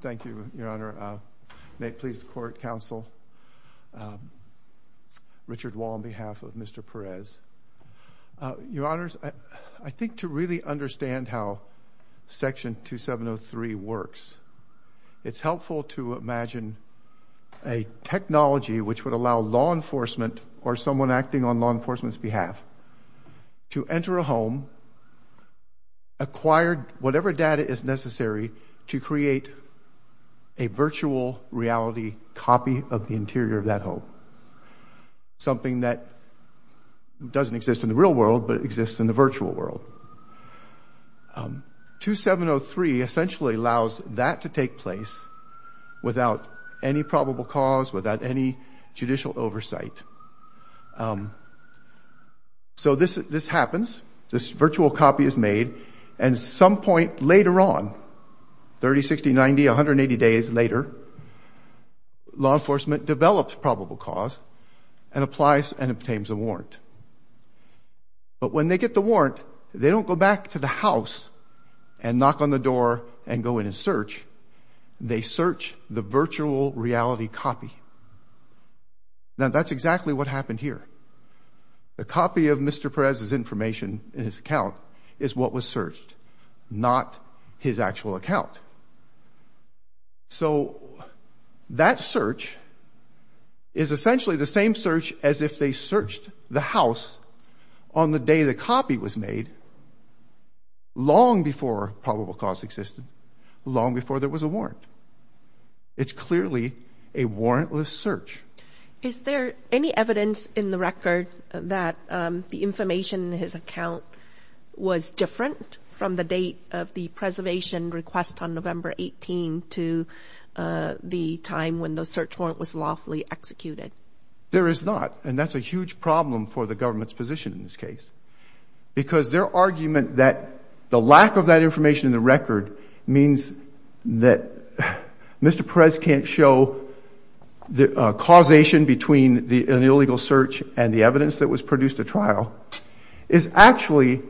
Thank you, Your Honor. May it please the Court, Counsel, Richard Wall on behalf of Mr. Perez. Your Honors, I think to really understand how Section 2703 works, it's helpful to imagine a technology which would allow law enforcement or someone acting on law enforcement's behalf to acquire whatever data is necessary to create a virtual reality copy of the interior of that home, something that doesn't exist in the real world but exists in the virtual world. 2703 essentially allows that to take place without any probable cause, without any judicial oversight. So this happens, this virtual copy is made, and some point later on, 30, 60, 90, 180 days later, law enforcement develops probable cause and applies and obtains a warrant. But when they get the warrant, they don't go back to the house and knock on the door and go in and The copy of Mr. Perez's information in his account is what was searched, not his actual account. So that search is essentially the same search as if they searched the house on the day the copy was made, long before probable cause existed, long before there was a warrant. It's clearly a warrantless search. Is there any evidence in the record that the information in his account was different from the date of the preservation request on November 18 to the time when the search warrant was lawfully executed? There is not, and that's a huge problem for the government's position in this case, because their argument that the lack of that information in the record means that Mr. Perez can't show the causation between an illegal search and the evidence that was produced at trial is actually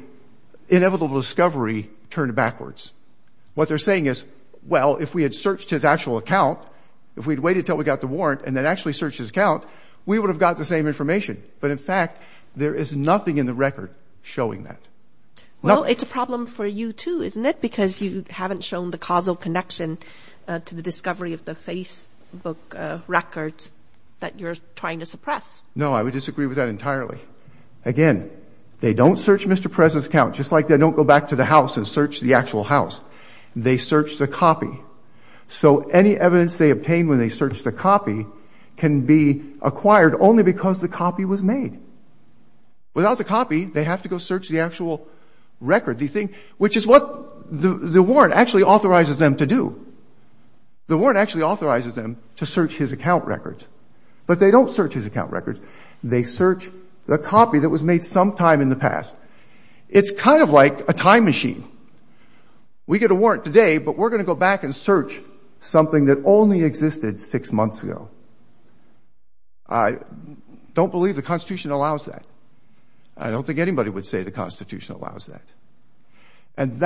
inevitable discovery turned backwards. What they're saying is, well, if we had searched his actual account, if we'd waited until we got the warrant and then actually searched his account, we would have got the same information. But in fact, there is nothing in the record showing that. Well, it's a problem for you, too, isn't it? Because you haven't shown the causal connection to the discovery of the Facebook records that you're trying to suppress. No, I would disagree with that entirely. Again, they don't search Mr. Perez's account, just like they don't go back to the house and search the actual house. They search the copy. So any evidence they obtain when they search the copy can be acquired only because the copy was made. Without the copy, they have to go search the actual record. Which is what the warrant actually authorizes them to do. The warrant actually authorizes them to search his account records. But they don't search his account records. They search the copy that was made sometime in the past. It's kind of like a time machine. We get a warrant today, but we're going to go back and search something that only existed six months ago. I don't believe the Constitution allows that. I don't think anybody would say the Constitution allows that. And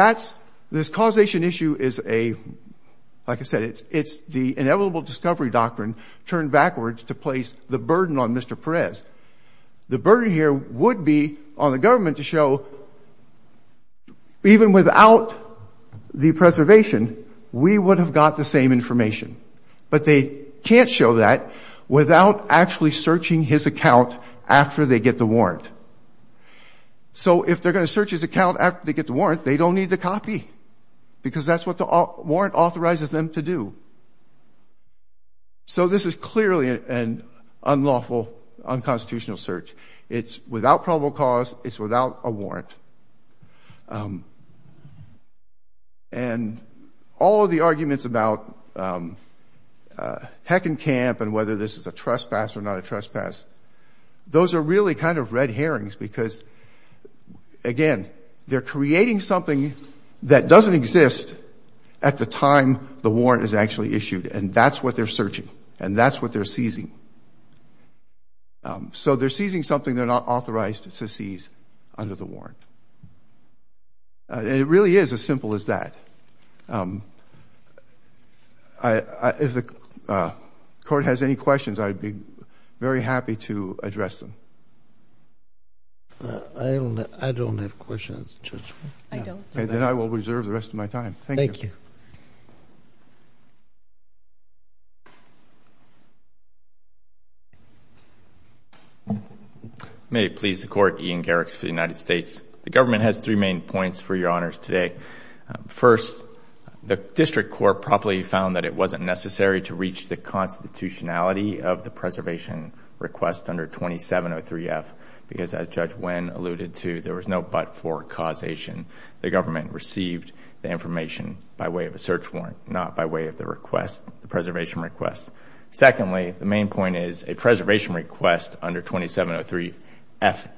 this causation issue is a, like I said, it's the inevitable discovery doctrine turned backwards to place the burden on Mr. Perez. The burden here would be on the government to show, even without the preservation, we would have got the same information. But they can't show that without actually searching his account after they get the warrant. So if they're going to search his account after they get the warrant, they don't need the copy. Because that's what the warrant authorizes them to do. So this is clearly an unlawful, unconstitutional search. It's without probable cause. It's without a warrant. And all of the arguments about Heck and Camp and whether this is a trespass or not a trespass, those are really kind of red herrings. Because, again, they're creating something that doesn't exist at the time the warrant is actually issued. And that's what they're searching. And that's what they're seizing. So they're seizing something they're not authorized to seize under the warrant. It really is as simple as that. If the court has any questions, I'd be very happy to address them. I don't have questions, Judge. I don't. Then I will reserve the rest of my time. Thank you. Thank you. May it please the Court. Ian Garrix for the United States. The government has three main points for your honors today. First, the district court properly found that it wasn't necessary to reach the constitutionality of the preservation request under 2703F. Because as Judge Nguyen alluded to, there was no but for causation. The government received the information by way of a search warrant, not by way of the request, the preservation request. Secondly, the main point is a preservation request under 2703F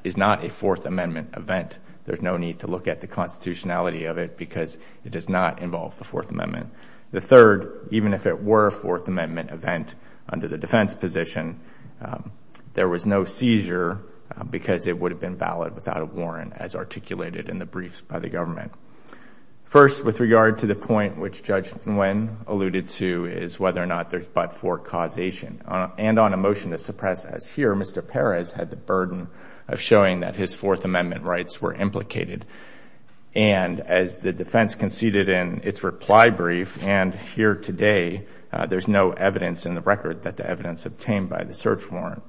is not a Fourth Amendment event. There's no need to look at the constitutionality of it because it does not involve the Fourth Amendment. The third, even if it were a Fourth Amendment event under the defense position, there was no seizure because it would have been valid without a warrant as articulated in the briefs by the government. First, with regard to the point which Judge Nguyen alluded to is whether or not there's but for causation. And on a motion to suppress as here, Mr. Perez had the burden of showing that his Fourth Amendment rights were implicated. And as the defense conceded in its reply brief and here today, there's no evidence in the record that the evidence obtained by the search warrant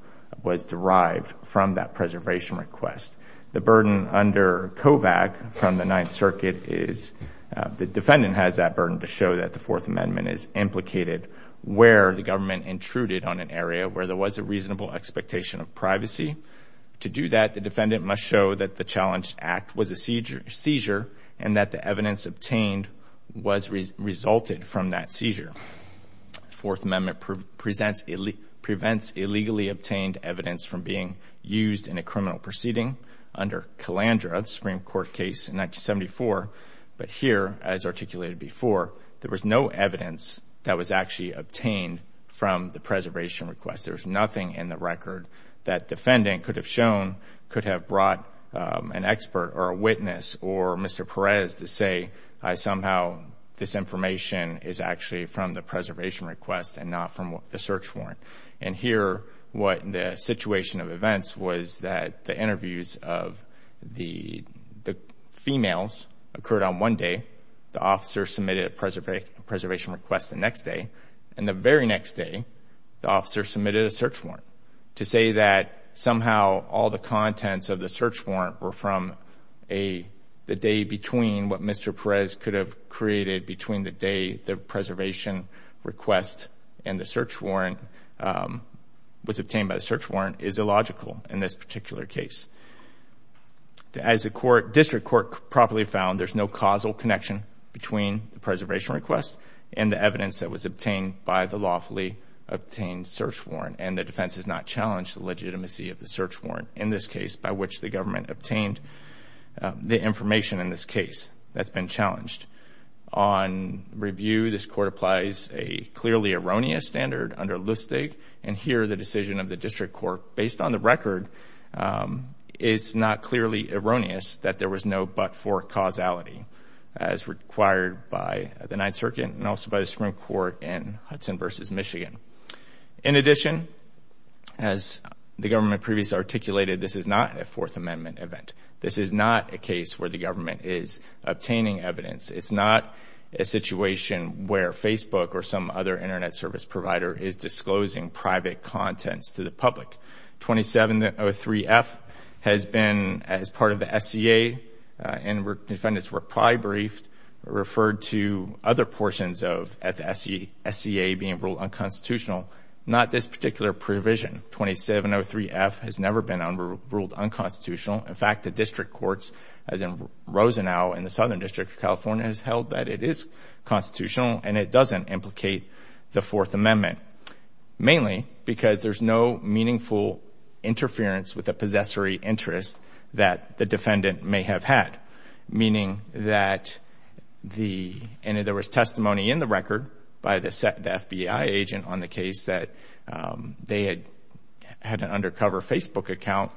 was derived from that preservation request. The burden under COVAC from the Ninth Circuit is the defendant has that burden to show that the Fourth Amendment is implicated where the government intruded on an area where there was a reasonable expectation of privacy. To do that, the defendant must show that the challenged act was a seizure and that the evidence obtained was resulted from that seizure. Fourth Amendment prevents illegally obtained evidence from being used in a criminal proceeding under Calandra, the Supreme Court case in 1974. But here, as articulated before, there was no evidence that was actually obtained from the preservation request. There's nothing in the record that defendant could have shown, could have brought an expert or a witness or Mr. Perez to say, somehow this information is actually from the preservation request and not from the search warrant. And here, what the situation of events was that the interviews of the females occurred on one day, the officer submitted a preservation request the next day, and the very next day, the officer submitted a search warrant. To say that somehow all the contents of the search warrant were from the day between what Mr. Perez could have created between the day the preservation request and the search warrant was obtained by the search warrant is illogical in this particular case. As the District Court properly found, there's no causal connection between the preservation request and the evidence that was obtained by the lawfully obtained search warrant. And the defense has not challenged the legitimacy of the search warrant in this case, by which the government obtained the information in this case that's been challenged. On review, this Court applies a clearly erroneous standard under Lustig. And here, the decision of the District Court, based on the record, is not clearly erroneous that there was no but-for causality, as required by the Ninth Circuit and also by the Supreme Court in Hudson v. Michigan. In addition, as the government previously articulated, this is not a Fourth Amendment event. This is not a case where the government is obtaining evidence. It's not a situation where Facebook or some other Internet service provider is disclosing private contents to the public. 2703F has been, as part of the SCA, and defendants were probably briefed, referred to other portions of the SCA being ruled unconstitutional, not this particular provision. 2703F has never been ruled unconstitutional. In fact, the District Courts, as in Rosenau in the Southern District of California, has held that it is constitutional and it doesn't implicate the Fourth Amendment, mainly because there's no meaningful interference with the possessory interest that the defendant may have had, meaning that there was testimony in the record by the FBI agent on the case that they had an undercover Facebook account,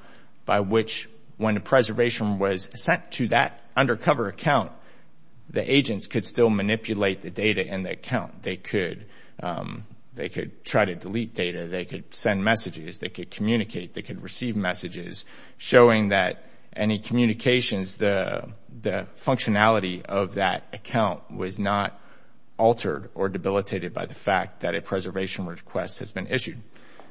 by which, when a preservation was sent to that undercover account, the agents could still manipulate the data in the account. They could try to delete data. They could send messages. They could communicate. They could receive messages showing that any communications, the functionality of that account was not altered or debilitated by the fact that a preservation request has been issued.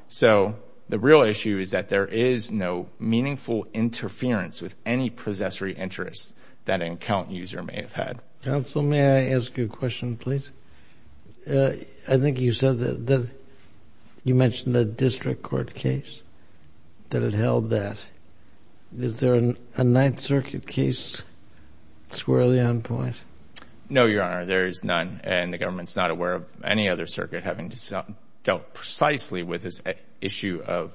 So the real issue is that there is no meaningful interference with any possessory interest that an account user may have had. Counsel, may I ask you a question, please? I think you said that you mentioned the District Court case that it held that. Is there a Ninth Circuit case squarely on point? No, Your Honor, there is none, and the government's not aware of any other circuit having dealt precisely with this issue of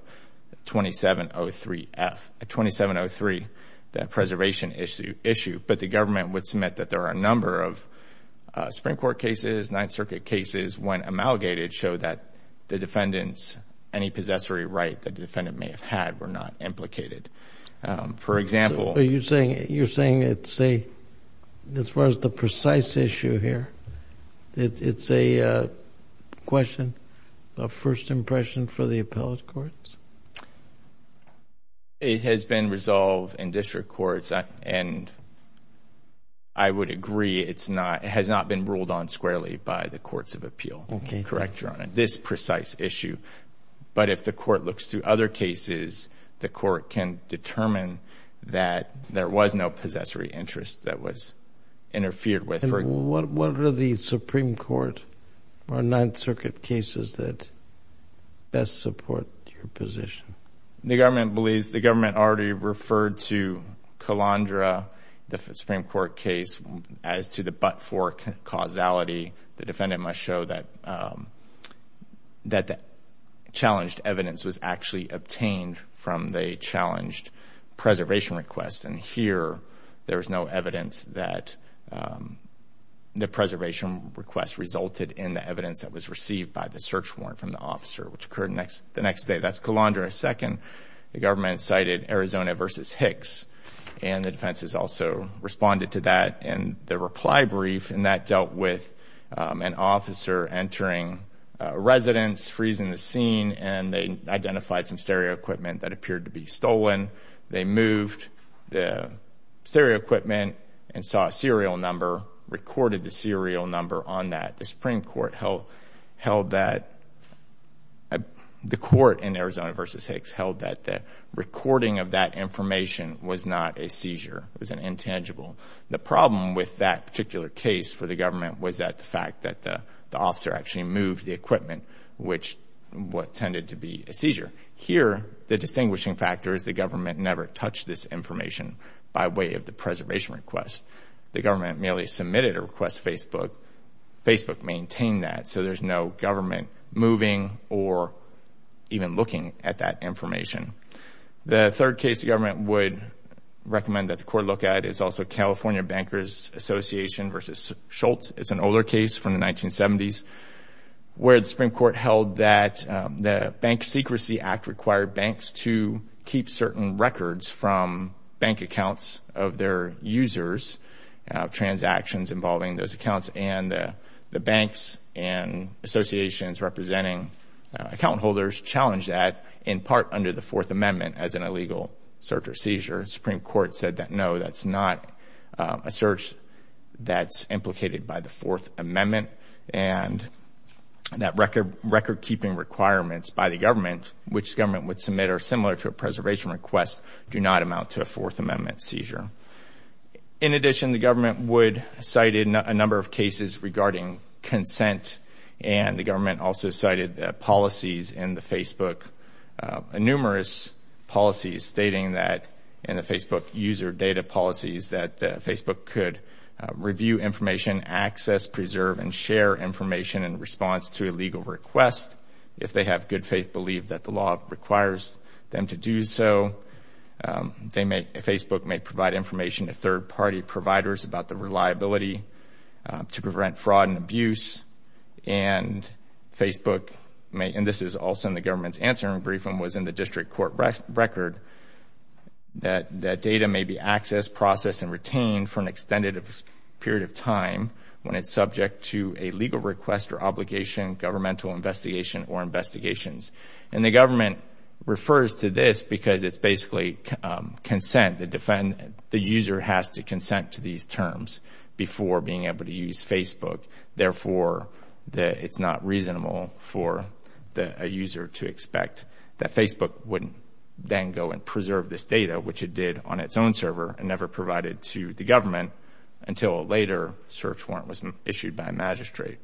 2703F, 2703, that preservation issue. But the government would submit that there are a number of Supreme Court cases, Ninth Circuit cases when amalgamated show that the defendants, any possessory right that the defendant may have had were not implicated. For example- So you're saying it's a, as far as the precise issue here, it's a question of first impression for the appellate courts? It has been resolved in District Courts, and I would agree it's not, it has not been ruled on squarely by the Courts of Appeal. Okay. Correct, Your Honor. This precise issue. But if the Court looks through other cases, the Court can determine that there was no possessory interest that was interfered with. And what are the Supreme Court or Ninth Circuit cases that best support your position? The government believes, the government already referred to Calandra, the Supreme Court case, as to the but-for causality. The defendant must show that the challenged evidence was actually obtained from the challenged preservation request, and here there is no evidence that the preservation request resulted in the evidence that was received by the search warrant from the officer, which occurred the next day. That's Calandra II. The government cited Arizona v. Hicks, and the defense has also responded to that in the reply brief, and that dealt with an officer entering a residence, freezing the scene, and they identified some stereo equipment that appeared to be stolen. They moved the stereo equipment and saw a serial number, recorded the serial number on that. The Supreme Court held that the court in Arizona v. Hicks held that the recording of that information was not a seizure. It was an intangible. The problem with that particular case for the government was that the fact that the officer actually moved the equipment, which tended to be a seizure. Here, the distinguishing factor is the government never touched this information by way of the preservation request. The government merely submitted a request to Facebook. Facebook maintained that, so there's no government moving or even looking at that information. The third case the government would recommend that the court look at is also California Bankers Association v. Schultz. It's an older case from the 1970s where the Supreme Court held that the Bank Secrecy Act required banks to keep certain records from bank accounts of their users, transactions involving those accounts, and the banks and associations representing account holders challenged that, in part under the Fourth Amendment, as an illegal search or seizure. The Supreme Court said that, no, that's not a search. That's implicated by the Fourth Amendment, and that record-keeping requirements by the government, which the government would submit are similar to a preservation request, do not amount to a Fourth Amendment seizure. In addition, the government cited a number of cases regarding consent, and the government also cited policies in the Facebook, numerous policies stating that in the Facebook user data policies that Facebook could review information, access, preserve, and share information in response to a legal request if they have good faith belief that the law requires them to do so. Facebook may provide information to third-party providers about the reliability to prevent fraud and abuse, and this is also in the government's answering brief and was in the district court record, that data may be accessed, processed, and retained for an extended period of time when it's subject to a legal request or obligation, governmental investigation, or investigations. And the government refers to this because it's basically consent. The user has to consent to these terms before being able to use Facebook. Therefore, it's not reasonable for a user to expect that Facebook would then go and preserve this data, which it did on its own server and never provided to the government until a later search warrant was issued by a magistrate.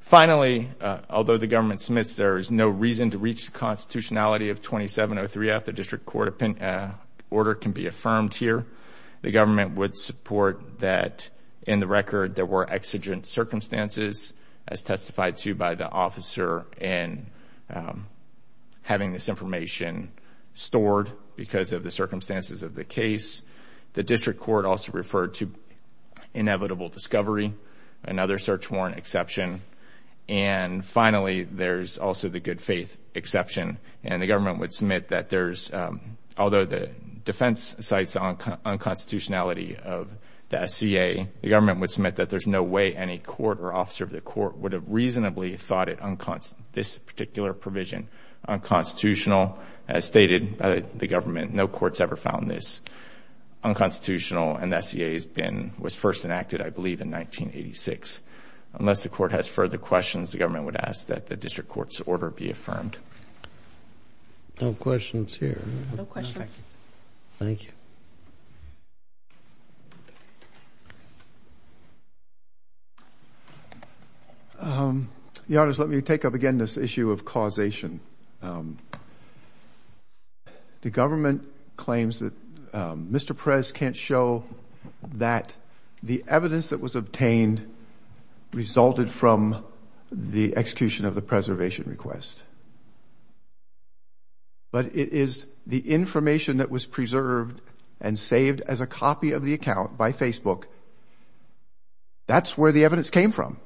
Finally, although the government submits there is no reason to reach the constitutionality of 2703F, the district court order can be affirmed here. The government would support that in the record there were exigent circumstances, as testified to by the officer in having this information stored because of the circumstances of the case. The district court also referred to inevitable discovery, another search warrant exception. And finally, there's also the good faith exception, and the government would submit that there's, although the defense cites unconstitutionality of the SCA, the government would submit that there's no way any court or officer of the court would have reasonably thought this particular provision unconstitutional. As stated by the government, no court's ever found this unconstitutional, and the SCA was first enacted, I believe, in 1986. Unless the court has further questions, the government would ask that the district court's order be affirmed. No questions here. No questions. Thank you. Your Honors, let me take up again this issue of causation. The government claims that Mr. Perez can't show that the evidence that was obtained resulted from the execution of the preservation request. But it is the information that was preserved and saved as a copy of the account by Facebook. That's where the evidence came from.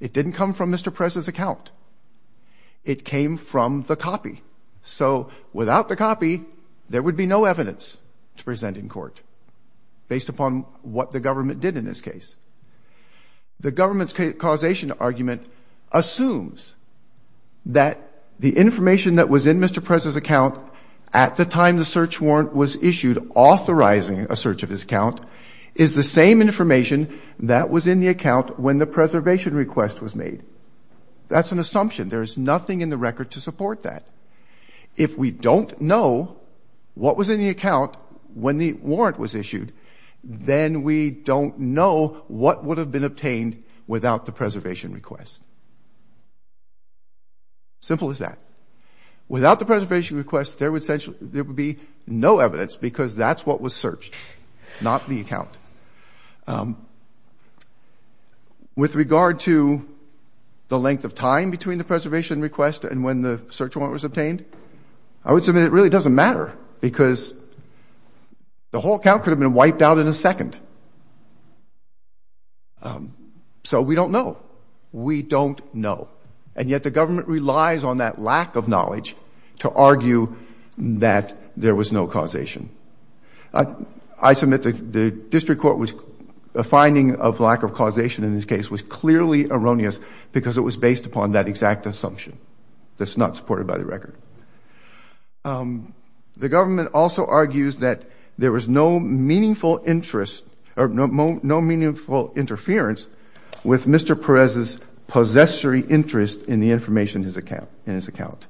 It didn't come from Mr. Perez's account. It came from the copy. So without the copy, there would be no evidence to present in court based upon what the government did in this case. The government's causation argument assumes that the information that was in Mr. Perez's account at the time the search warrant was issued, authorizing a search of his account, is the same information that was in the account when the preservation request was made. That's an assumption. There is nothing in the record to support that. If we don't know what was in the account when the warrant was issued, then we don't know what would have been obtained without the preservation request. Simple as that. Without the preservation request, there would be no evidence because that's what was searched, not the account. With regard to the length of time between the preservation request and when the search warrant was obtained, I would submit it really doesn't matter because the whole account could have been wiped out in a second. So we don't know. We don't know. And yet the government relies on that lack of knowledge to argue that there was no causation. I submit the district court was finding of lack of causation in this case was clearly erroneous because it was based upon that exact assumption that's not supported by the record. The government also argues that there was no meaningful interest or no meaningful interference with Mr. Perez's possessory interest in the information in his account.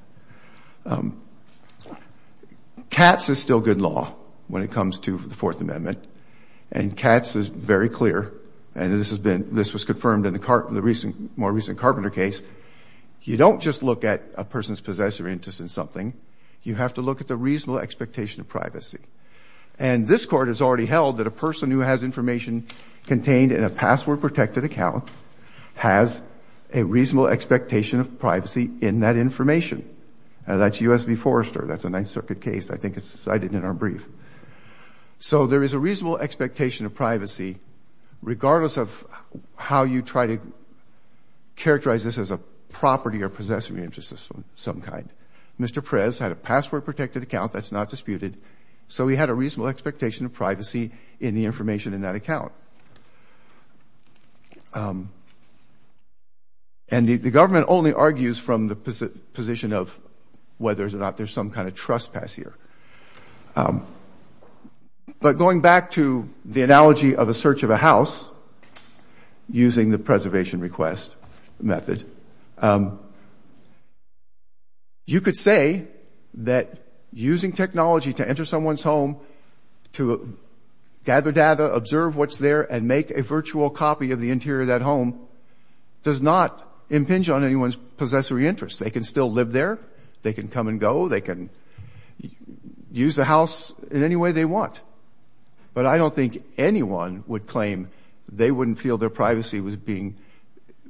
CATS is still good law when it comes to the Fourth Amendment, and CATS is very clear, and this was confirmed in the more recent Carpenter case. You don't just look at a person's possessory interest in something. You have to look at the reasonable expectation of privacy. And this Court has already held that a person who has information contained in a password-protected account has a reasonable expectation of privacy in that information. That's U.S. v. Forrester. That's a Ninth Circuit case. I think it's cited in our brief. So there is a reasonable expectation of privacy regardless of how you try to characterize this as a property or possessory interest of some kind. Mr. Perez had a password-protected account. That's not disputed. So he had a reasonable expectation of privacy in the information in that account. And the government only argues from the position of whether or not there's some kind of trespass here. But going back to the analogy of a search of a house using the preservation request method, you could say that using technology to enter someone's home to gather data, observe what's there, and make a virtual copy of the interior of that home does not impinge on anyone's possessory interest. They can still live there. They can come and go. They can use the house in any way they want. But I don't think anyone would claim they wouldn't feel their privacy was being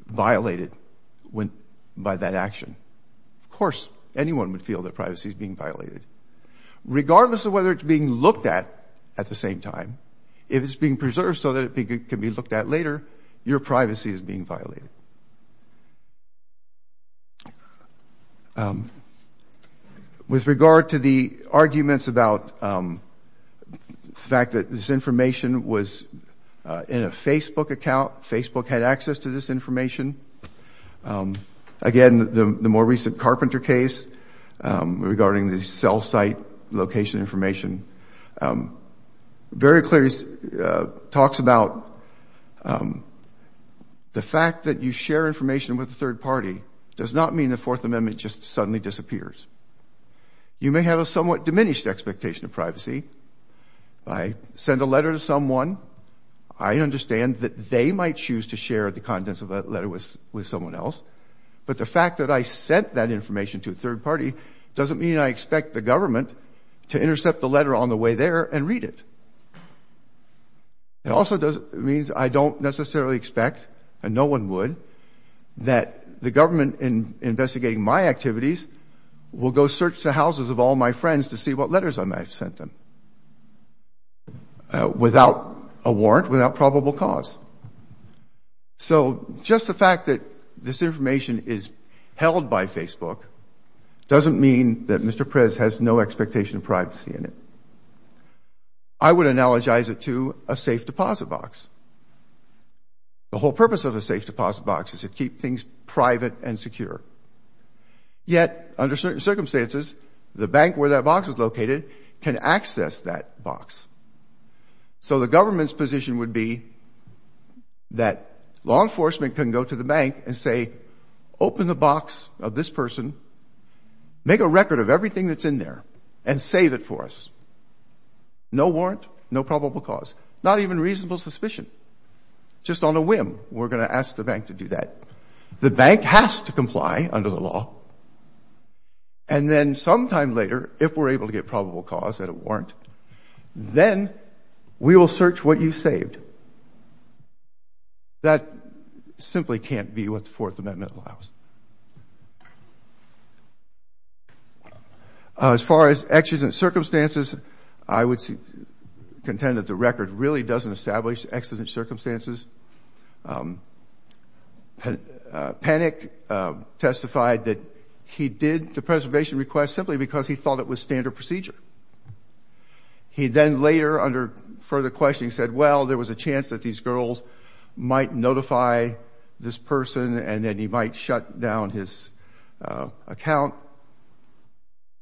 violated by that action. Of course, anyone would feel their privacy is being violated. Regardless of whether it's being looked at at the same time, if it's being preserved so that it can be looked at later, your privacy is being violated. With regard to the arguments about the fact that this information was in a Facebook account, Facebook had access to this information. Again, the more recent Carpenter case regarding the cell site location information, very clearly talks about the fact that you share information with a third party does not mean the Fourth Amendment just suddenly disappears. You may have a somewhat diminished expectation of privacy. I send a letter to someone. I understand that they might choose to share the contents of that letter with someone else. But the fact that I sent that information to a third party doesn't mean I expect the government to intercept the letter on the way there and read it. It also means I don't necessarily expect, and no one would, that the government investigating my activities will go search the houses of all my friends to see what letters I might have sent them. Without a warrant, without probable cause. So just the fact that this information is held by Facebook doesn't mean that Mr. Prez has no expectation of privacy in it. I would analogize it to a safe deposit box. The whole purpose of a safe deposit box is to keep things private and secure. Yet, under certain circumstances, the bank where that box is located can access that box. So the government's position would be that law enforcement can go to the bank and say, open the box of this person, make a record of everything that's in there, and save it for us. No warrant, no probable cause. Not even reasonable suspicion. Just on a whim, we're going to ask the bank to do that. The bank has to comply under the law. And then sometime later, if we're able to get probable cause and a warrant, then we will search what you saved. That simply can't be what the Fourth Amendment allows. As far as exigent circumstances, I would contend that the record really doesn't establish exigent circumstances. Panic testified that he did the preservation request simply because he thought it was standard procedure. He then later, under further questioning, said, well, there was a chance that these girls might notify this person, and then he might shut down his account.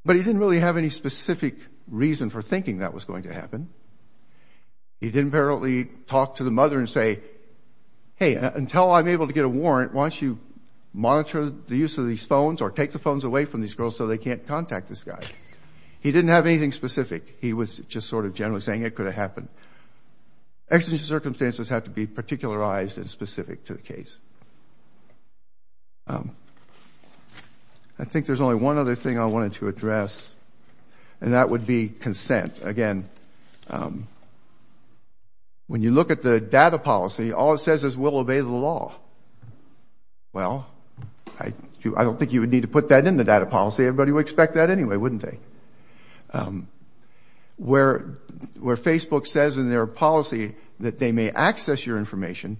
But he didn't really have any specific reason for thinking that was going to happen. He didn't apparently talk to the mother and say, hey, until I'm able to get a warrant, why don't you monitor the use of these phones or take the phones away from these girls so they can't contact this guy. He didn't have anything specific. He was just sort of generally saying it could have happened. Exigent circumstances have to be particularized and specific to the case. I think there's only one other thing I wanted to address, and that would be consent. Again, when you look at the data policy, all it says is we'll obey the law. Well, I don't think you would need to put that in the data policy. Everybody would expect that anyway, wouldn't they? Where Facebook says in their policy that they may access your information,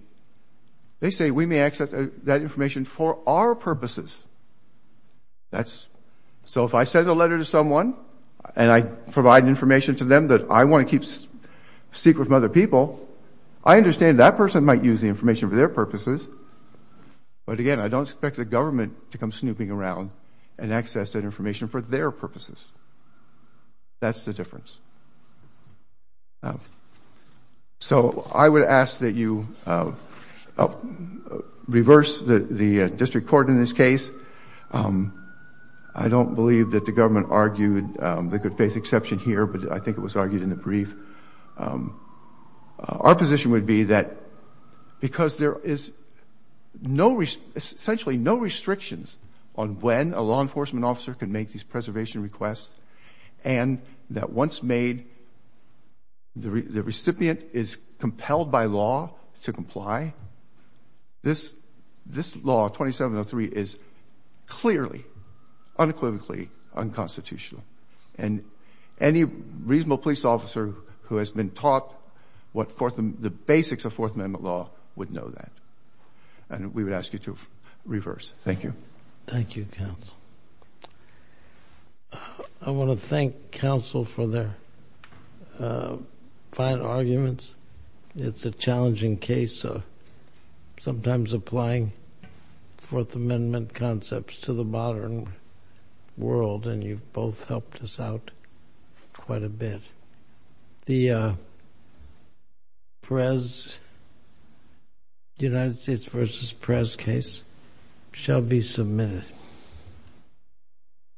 they say we may access that information for our purposes. So if I send a letter to someone and I provide information to them that I want to keep secret from other people, I understand that person might use the information for their purposes. But again, I don't expect the government to come snooping around and access that information for their purposes. That's the difference. So I would ask that you reverse the district court in this case. I don't believe that the government argued the good faith exception here, but I think it was argued in the brief. Our position would be that because there is essentially no restrictions on when a law enforcement officer can make these decisions, when a decision is made, the recipient is compelled by law to comply. This law, 2703, is clearly unequivocally unconstitutional. And any reasonable police officer who has been taught the basics of Fourth Amendment law would know that. And we would ask you to reverse. Thank you. Thank you, counsel. I want to thank counsel for their fine arguments. It's a challenging case, sometimes applying Fourth Amendment concepts to the modern world, and you've both helped us out quite a bit. The United States v. Perez case shall be submitted.